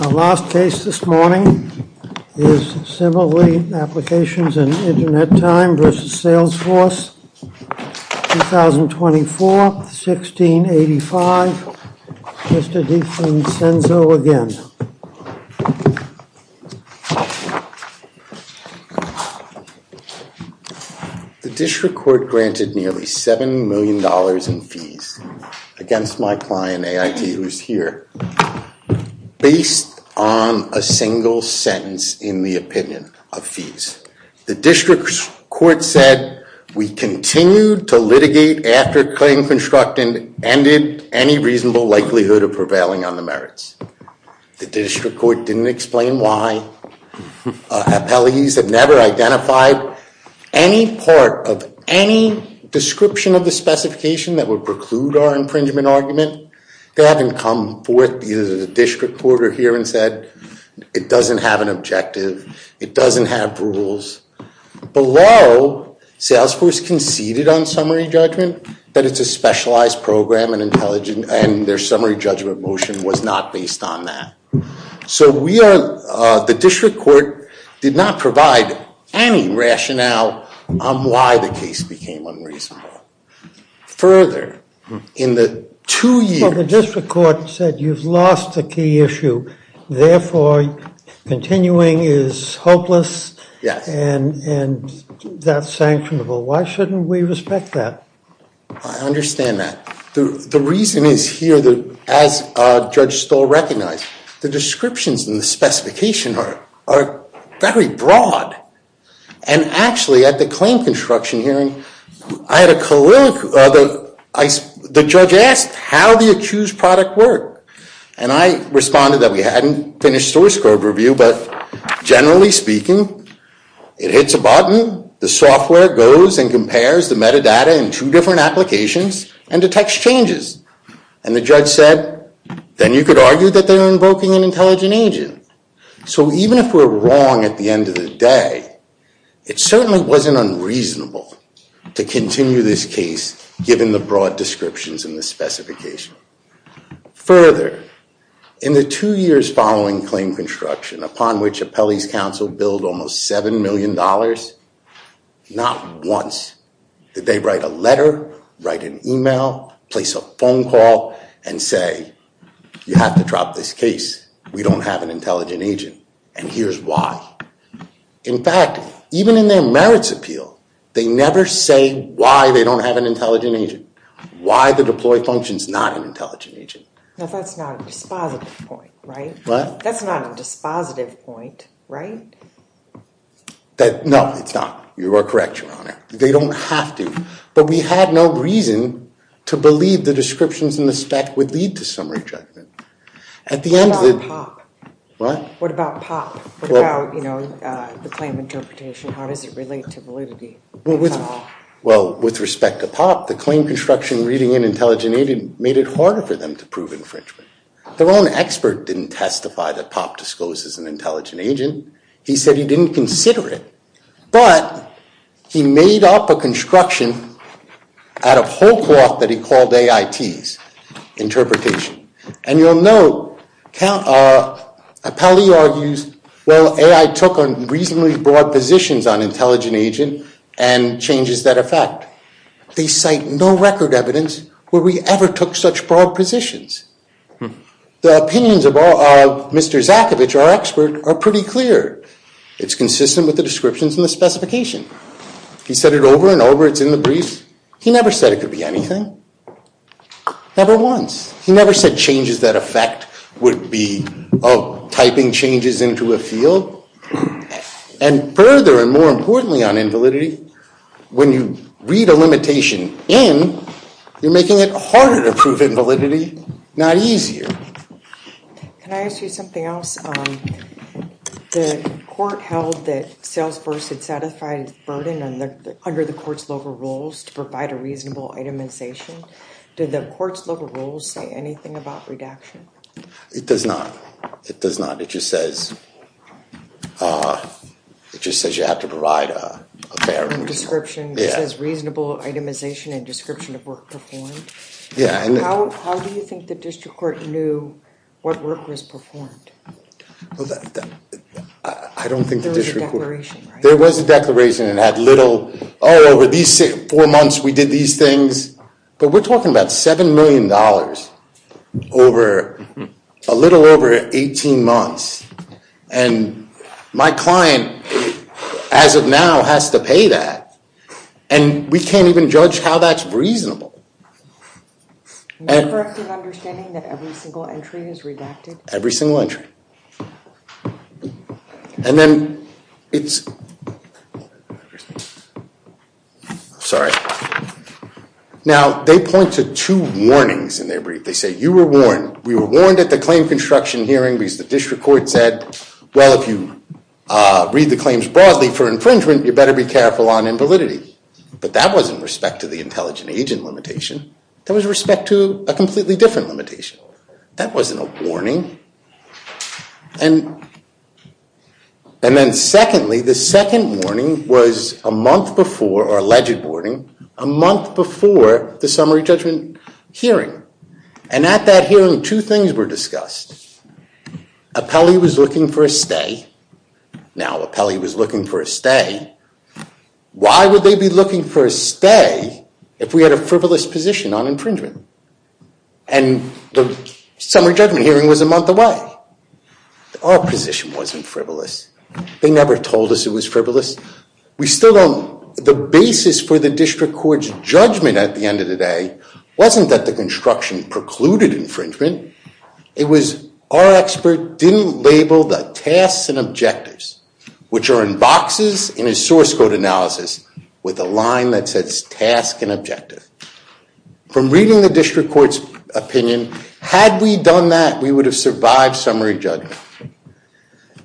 Our last case this morning is Simile Applications In Internet Time v. Salesforce, 2024, 1685. Mr. DiFrancenzo again. The district court granted nearly $7 million in fees against my client AIT, who is here, based on a single sentence in the opinion of fees. The district court said we continued to litigate after claim constructed and ended any reasonable likelihood of prevailing on the merits. The district court didn't explain why. Appellees have never identified any part of any description of the specification that would preclude our impringement argument. They haven't come forth either the district court or here and said it doesn't have an objective. It doesn't have rules. Below, Salesforce conceded on summary judgment that it's a specialized program and their summary judgment motion was not based on that. So the district court did not provide any rationale on why the case became unreasonable. Further, in the two years... The district court said you've lost the key issue. Therefore, continuing is hopeless. Yes. And that's sanctionable. Why shouldn't we respect that? I understand that. The reason is here that, as Judge Stoll recognized, the descriptions and the specification are very broad. And actually at the claim construction hearing, I had a colloquial... The judge asked how the accused product worked and I responded that we hadn't finished source code review, but generally speaking, it hits a button, the software goes and compares the metadata in two different applications and detects changes. And the judge said, then you could argue that they're invoking an intelligent agent. So even if we're wrong at the end of the day, it certainly wasn't unreasonable to continue this case given the broad descriptions in the specification. Further, in the two years following claim construction, upon which Appellee's Council billed almost seven million dollars, not once did they write a letter, write an email, place a phone call, and say you have to drop this case. We don't have an intelligent agent, and here's why. In fact, even in their merits appeal, they never say why they don't have an intelligent agent. Why the deploy function is not an intelligent agent. Now that's not a dispositive point, right? What? That's not a dispositive point, right? That, no, it's not. You are correct, Your Honor. They don't have to, but we had no reason to believe the descriptions in the spec would lead to some rejectment. At the end of the... What? What about POP? What about, you know, the claim interpretation? How does it relate to validity? Well, with respect to POP, the claim construction reading an intelligent agent made it harder for them to prove infringement. Their own expert didn't testify that POP discloses an intelligent agent. He said he didn't consider it, but he made up a construction out of whole cloth that he called AITs, interpretation, and you'll note Appellee argues, well, AI took on reasonably broad positions on intelligent agent and changes that effect. They cite no record evidence where we ever took such broad positions. The opinions of Mr. Zakovich, our expert, are pretty clear. It's consistent with the descriptions in the specification. He said it over and over. It's in the brief. He never said it could be anything. Never once. He never said changes that effect would be of typing changes into a field. And further and more importantly on invalidity, when you read a limitation in, you're making it harder to prove invalidity, not easier. Can I ask you something else? The court held that Salesforce had satisfied its burden under the court's local rules to provide a reasonable itemization. Did the court's local rules say anything about redaction? It does not. It does not. It just says, it just says you have to provide a fair description. It says reasonable itemization and description of work performed. Yeah, and how do you think the district court knew what work was performed? I don't think the district court. There was a declaration, right? There was a declaration. It had little, oh, over these four months we did these things. But we're talking about seven million dollars over, a little over 18 months. And my client, as of now, has to pay that. And we can't even judge how that's reasonable. Not correctly understanding that every single entry is redacted? Every single entry. And then it's, sorry. Now, they point to two warnings in their brief. They say, you were warned. We were warned at the claim construction hearing because the district court said, well, if you read the claims broadly for infringement, you better be careful on invalidity. But that wasn't respect to the intelligent agent limitation. That was respect to a completely different limitation. That wasn't a warning. And then secondly, the second warning was a month before, or alleged warning, a month before the summary judgment hearing. And at that hearing, two things were discussed. Apelli was looking for a stay. Now, Apelli was looking for a stay. Why would they be looking for a stay if we had a frivolous position on infringement? And the summary judgment hearing was a month away. Our position wasn't frivolous. They never told us it was frivolous. We still don't, the basis for the district court's judgment at the end of the day wasn't that the construction precluded infringement. It was our expert didn't label the tasks and objectives, which are in boxes in his source code analysis with a line that says task and objective. From reading the district court's opinion, had we done that, we would have survived summary judgment.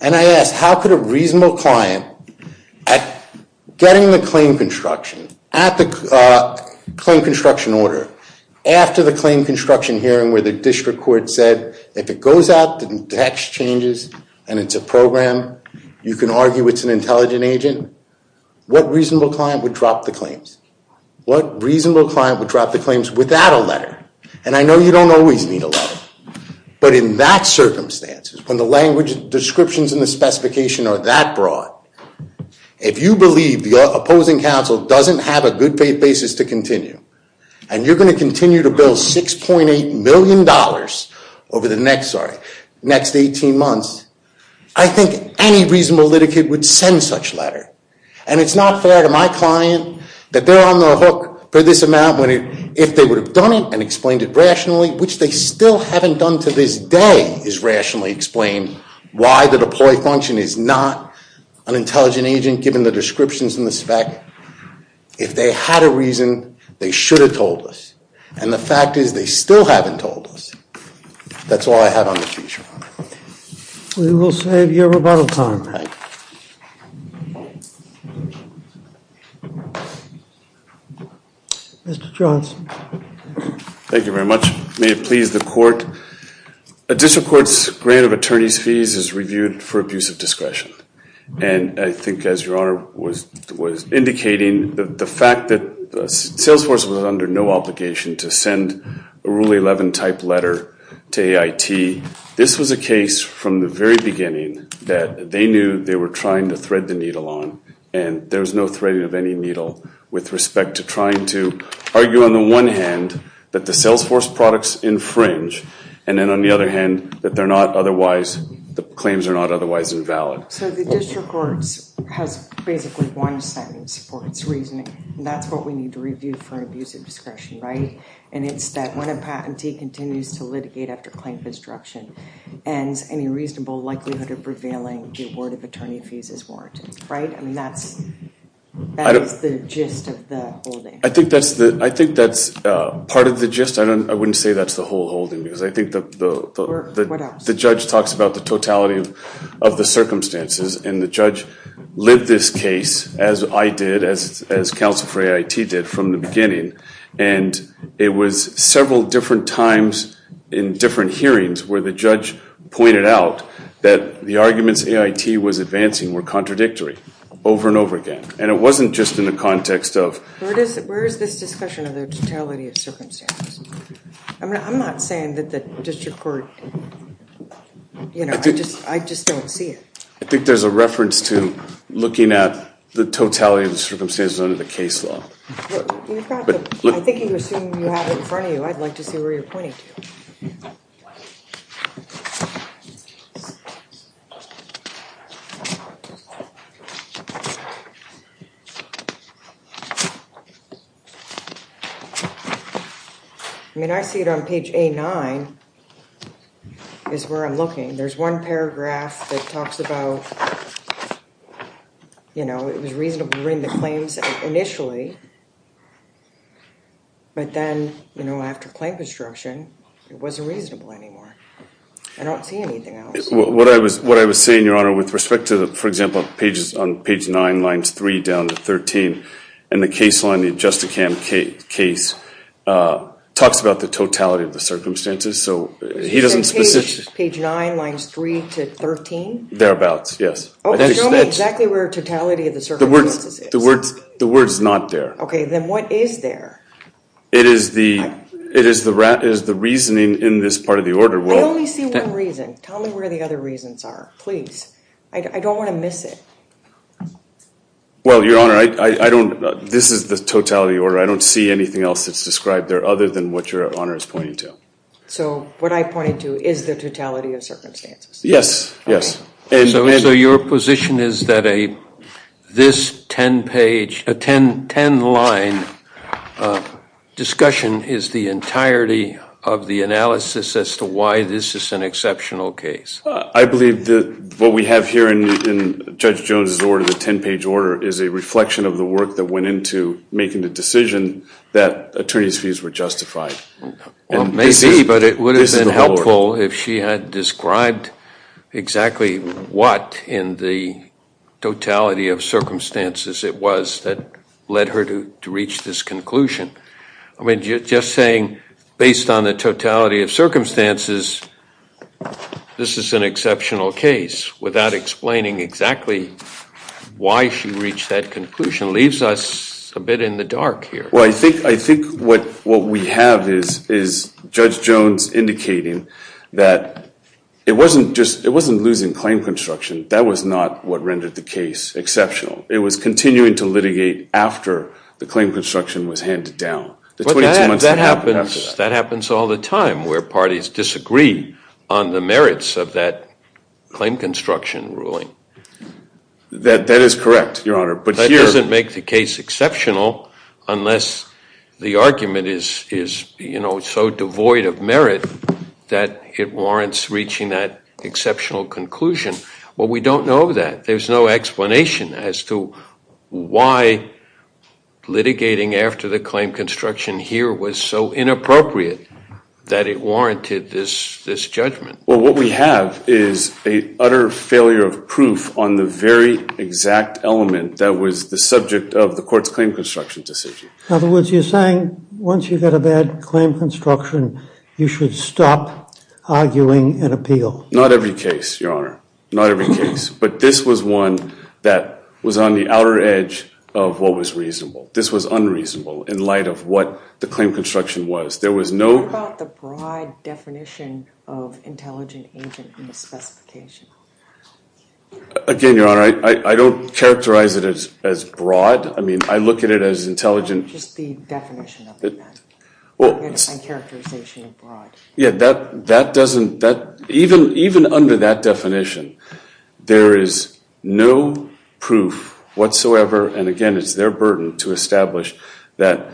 And I asked, how could a reasonable client, at getting the claim construction, at the claim construction order, after the claim construction hearing where the district court said, if it goes out, the text changes, and it's a program, you can argue it's an intelligent agent. What reasonable client would drop the claims? What reasonable client would drop the claims without a letter? And I know you don't always need a letter, but in that circumstances, when the language descriptions and the specification are that broad, if you believe the opposing counsel doesn't have a good faith basis to continue, and you're going to continue to bill 6.8 million dollars over the next, sorry, next 18 months, I think any reasonable litigate would send such letter. And it's not fair to my client that they're on the hook for this amount, if they would have done it and explained it rationally, which they still haven't done to this day, is rationally explain why the deploy function is not an intelligent agent, given the descriptions in the spec. If they had a reason, they should have told us. And the fact is, they still haven't told us. That's all I have on the future. We will save your rebuttal time. Mr. Johnson. Thank you very much. May it please the court. A district court's grant of attorney's fees is reviewed for abuse of discretion, and I think as your honor was indicating, the fact that Salesforce was under no obligation to send a Rule 11 type letter to AIT. This was a case from the very beginning that they knew they were trying to thread the needle on, and there's no threading of any needle with respect to trying to argue on the one hand that the Salesforce products infringe, and then on the other hand that they're not otherwise, the claims are not otherwise invalid. So the district court has basically one sentence for its reasoning. That's what we need to review for abuse of discretion, right? And it's that when a patentee continues to litigate after claims destruction and any reasonable likelihood of prevailing, the award of attorney fees is warranted, right? I mean, that's I think that's the, I think that's part of the gist. I don't, I wouldn't say that's the whole holding, because I think that the judge talks about the totality of the circumstances, and the judge lit this case as I did, as counsel for AIT did from the beginning, and it was several different times in different hearings where the judge pointed out that the arguments AIT was advancing were contradictory, over and over again. And it wasn't just in the context of... Where is this discussion of the totality of circumstances? I mean, I'm not saying that the district court, you know, I just don't see it. I think there's a reference to looking at the totality of the circumstances under the case law. I think you can assume you have it in front of you. I'd like to see where you're pointing to. I mean, I see it on page A9, is where I'm looking. There's one paragraph that talks about, you know, it was reasonable to bring the claims initially, but then, you know, after claim construction, it wasn't reasonable anymore. I don't see anything else. What I was, what I was saying, Your Honor, with respect to, for example, pages, on page 9, lines 3 down to 13, and the case line, the Adjusticam case, talks about the totality of the circumstances, so he doesn't... Page 9, lines 3 to 13? Thereabouts, yes. Okay, show me exactly where totality of the circumstances is. The word's not there. Okay, then what is there? It is the, it is the reasoning in this part of the order. Well, I only see one reason. Tell me where the other reasons are, please. I don't want to miss it. Well, Your Honor, I don't, this is the totality order. I don't see anything else that's described there other than what Your Honor is pointing to. So, what I pointed to is the totality of circumstances? Yes, yes. So, your position is that a, this 10 page, a 10, 10 line discussion is the entirety of the analysis as to why this is an exceptional case? I believe that what we have here in Judge Jones's order, the 10 page order, is a reflection of the work that went into making the decision that attorney's fees were justified. Well, maybe, but it would have been helpful if she had described exactly what in the totality of circumstances it was that led her to reach this conclusion. I mean, just saying, based on the totality of circumstances, this is, this is an exceptional case without explaining exactly why she reached that conclusion leaves us a bit in the dark here. Well, I think, I think what, what we have is, is Judge Jones indicating that it wasn't just, it wasn't losing claim construction. That was not what rendered the case exceptional. It was continuing to litigate after the claim construction was handed down. That happens, that happens all the time where parties disagree on the merits of that claim construction ruling. That, that is correct, Your Honor, but here... That doesn't make the case exceptional unless the argument is, is, you know, so devoid of merit that it warrants reaching that exceptional conclusion. Well, we don't know that. There's no explanation as to why litigating after the claim construction here was so inappropriate that it warranted this, this judgment. Well, what we have is a utter failure of proof on the very exact element that was the subject of the court's claim construction decision. In other words, you're saying once you get a bad claim construction, you should stop arguing and appeal. Not every case, Your Honor, not every case, but this was one that was on the outer edge of what was reasonable. This was unreasonable in light of what the claim construction was. There was no... What about the broad definition of intelligent agent in the specification? Again, Your Honor, I don't characterize it as, as broad. I mean, I look at it as intelligent... Just the definition of it, then. Well, it's a characterization of broad. Yeah, that, that doesn't, that, even, even under that definition, there is no proof whatsoever, and again, it's their burden to establish that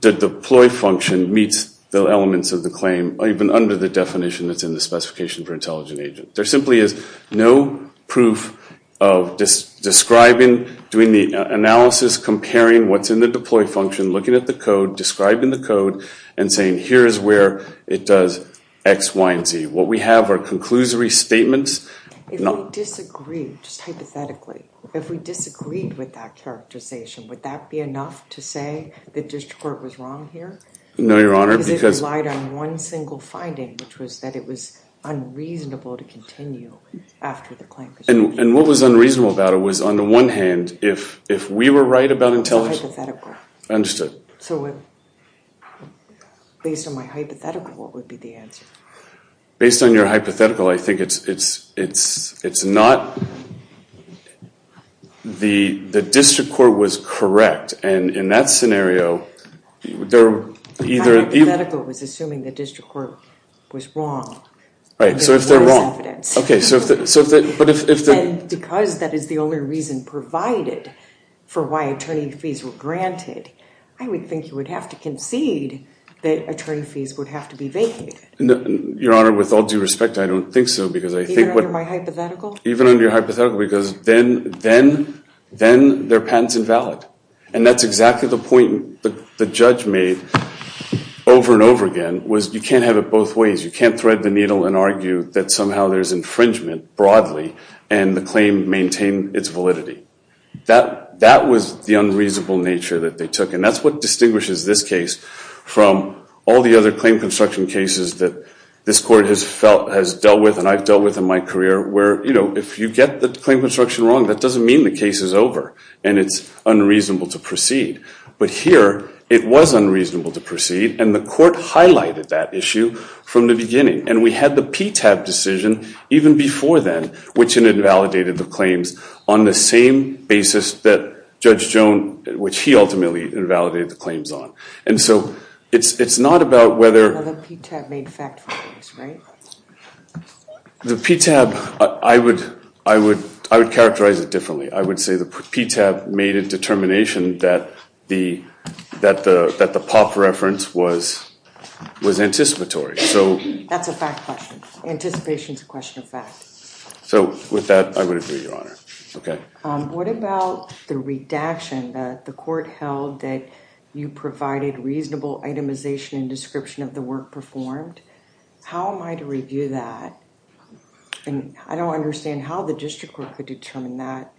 the deploy function meets the elements of the claim, even under the definition that's in the specification for intelligent agent. There simply is no proof of describing, doing the analysis, comparing what's in the deploy function, looking at the code, describing the code, and saying here is where it does X, Y, and Z. What we have are conclusory statements If we disagreed, just hypothetically, if we disagreed with that characterization, would that be enough to say the district court was wrong here? No, Your Honor, because... Because it relied on one single finding, which was that it was unreasonable to continue after the claim construction. And, and what was unreasonable about it was, on the one hand, if, if we were right about intelligent... It's hypothetical. Understood. So, based on my hypothetical, what would be the answer? Based on your hypothetical, I think it's, it's, it's, it's not... The, the district court was correct, and in that scenario, they're either... My hypothetical was assuming the district court was wrong. Right, so if they're wrong, okay, so if the, so if the, but if, if the... And because that is the only reason provided for why attorney fees were granted, I would think you would have to concede that attorney fees would have to be vacated. Your Honor, with all due respect, I don't think so, because I think... Even under my hypothetical? Even under your hypothetical, because then, then, then their patent's invalid. And that's exactly the point the, the judge made over and over again, was you can't have it both ways. You can't thread the needle and argue that somehow there's infringement broadly, and the claim maintained its validity. That, that was the unreasonable nature that they took, and that's what distinguishes this case from all the other claim construction cases that this court has felt, has dealt with, and I've dealt with in my career, where, you know, if you get the claim construction wrong, that doesn't mean the case is over, and it's unreasonable to proceed. But here, it was unreasonable to proceed, and the court highlighted that issue from the beginning. And we had the PTAB decision even before then, which invalidated the claims on the same basis that Judge Joan, which he ultimately invalidated the claims on. And so, it's, it's not about whether... Well, the PTAB made fact findings, right? The PTAB, I would, I would, I would characterize it differently. I would say the PTAB made a determination that the, that the, that the POP reference was, was anticipatory. So... That's a fact question. Anticipation's a question of fact. So with that, I would agree, Your Honor. Okay. What about the redaction that the court held that you provided reasonable itemization and description of the work performed? How am I to review that? And I don't understand how the district court could determine that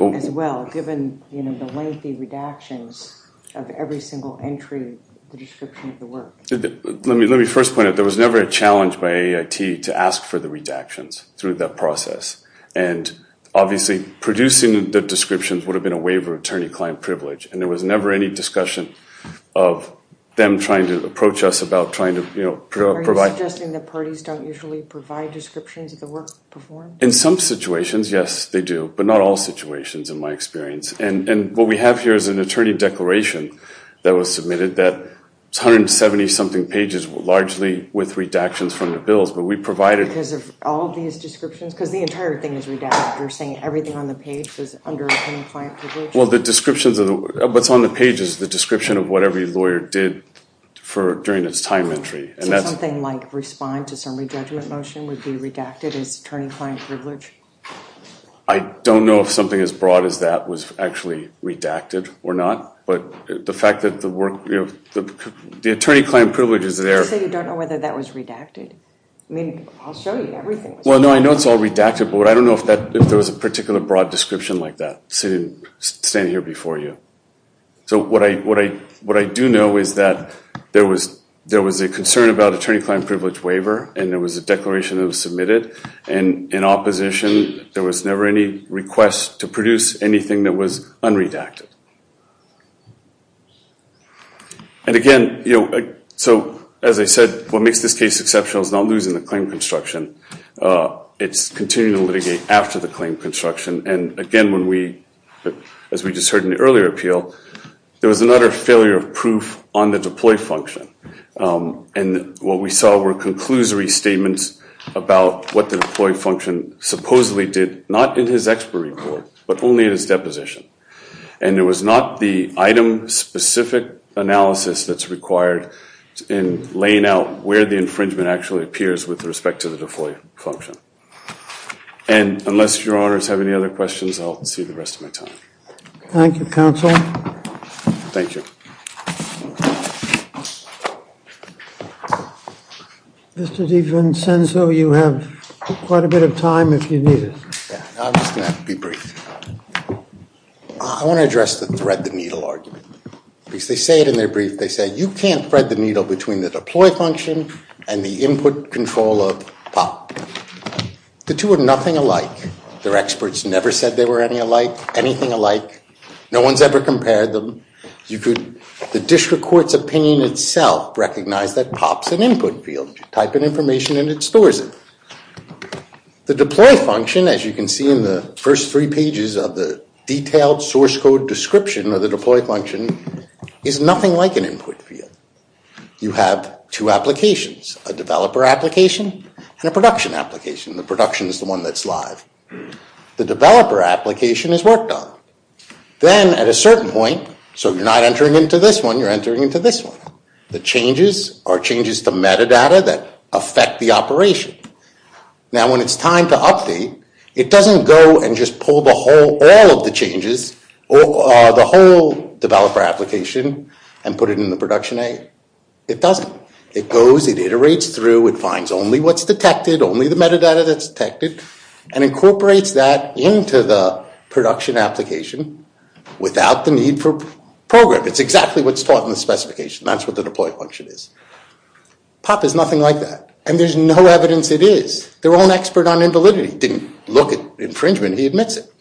as well, given, you know, the lengthy redactions of every single entry, the description of the work. Let me, let me first point out, there was never a challenge by AIT to ask for the redactions through that process. And obviously, producing the descriptions would have been a waiver of attorney-client privilege, and there was never any discussion of them trying to approach us about trying to, you know, provide... Are you suggesting that parties don't usually provide descriptions of the work performed? In some situations, yes, they do, but not all situations, in my experience. And, and what we have here is an attorney declaration that was submitted that, it's 170-something pages, largely with redactions from the bills. But we provided... Because of all these descriptions? Because the entire thing is redacted. You're saying everything on the page is under attorney-client privilege? Well, the descriptions of the, what's on the page is the description of what every lawyer did for, during its time entry. And that's... So something like respond to summary judgment motion would be redacted as attorney-client privilege? I don't know if something as broad as that was actually redacted or not. But the fact that the work, you know, the attorney-client privilege is there. So you don't know whether that was redacted? I mean, I'll show you everything. Well, no, I know it's all redacted, but I don't know if that, if there was a particular broad description like that sitting, standing here before you. So what I, what I, what I do know is that there was, there was a concern about attorney-client privilege waiver, and there was a declaration that was submitted. And in opposition, there was never any request to produce anything that was unredacted. And again, you know, so as I said, what makes this case exceptional is not losing the claim construction. It's continuing to litigate after the claim construction. And again, when we, as we just heard in the earlier appeal, there was another failure of proof on the deploy function. And what we saw were conclusory statements about what the deploy function supposedly did, not in his expert report, but only in his deposition. And it was not the item specific analysis that's required in laying out where the infringement actually appears with respect to the deploy function. And unless your honors have any other questions, I'll see the rest of my time. Thank you, counsel. Thank you. Mr. DiVincenzo, you have quite a bit of time if you need it. Yeah, I'm just going to be brief. I want to address the thread the needle argument, because they say it in their brief. They say you can't thread the needle between the deploy function and the input control of POP. The two are nothing alike. Their experts never said they were anything alike. No one's ever compared them. The district court's opinion itself recognized that POP's an input field. You type in information and it stores it. The deploy function, as you can see in the first three pages of the detailed source code description of the deploy function, is nothing like an input field. You have two applications, a developer application and a production application. The production is the one that's live. The developer application is worked on. Then at a certain point, so you're not entering into this one, you're entering into this one. The changes are changes to metadata that affect the operation. Now when it's time to update, it doesn't go and just pull all of the changes, the whole developer application, and put it in the production A. It doesn't. It goes, it iterates through, it finds only what's detected, only the metadata that's detected, and incorporates that into the production application without the need for program. It's exactly what's taught in the specification. That's what the deploy function is. POP is nothing like that, and there's no evidence it is. Their own expert on invalidity didn't look at infringement. He admits it.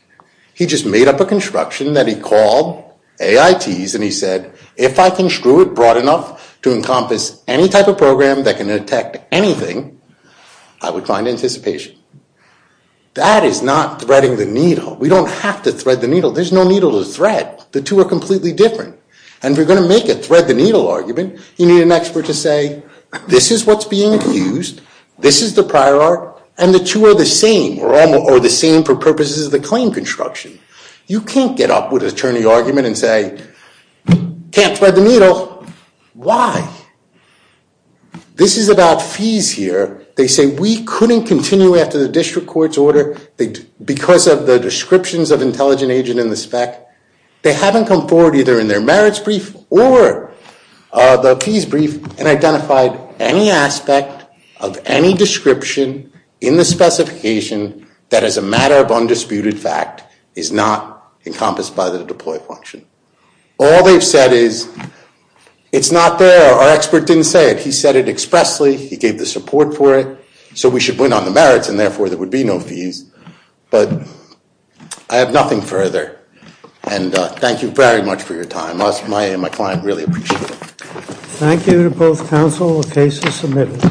He just made up a construction that he called AITs, and he said, if I can screw it broad enough to encompass any type of program that can detect anything, I would find anticipation. That is not threading the needle. We don't have to thread the needle. There's no needle to thread. The two are completely different. And if you're going to make a thread-the-needle argument, you need an expert to say, this is what's being used, this is the prior art, and the two are the same, or the same for purposes of the claim construction. You can't get up with an attorney argument and say, can't thread the needle. Why? This is about fees here. They say, we couldn't continue after the district court's order because of the descriptions of intelligent agent in the spec. They haven't come forward either in their merits brief or the fees brief and identified any aspect of any description in the specification that is a matter of undisputed fact is not encompassed by the deploy function. All they've said is, it's not there. Our expert didn't say it. He said it expressly. He gave the support for it. So we should win on the merits and therefore there would be no fees. But I have nothing further. And thank you very much for your time. My client really appreciated it. Thank you to both counsel. The case is submitted.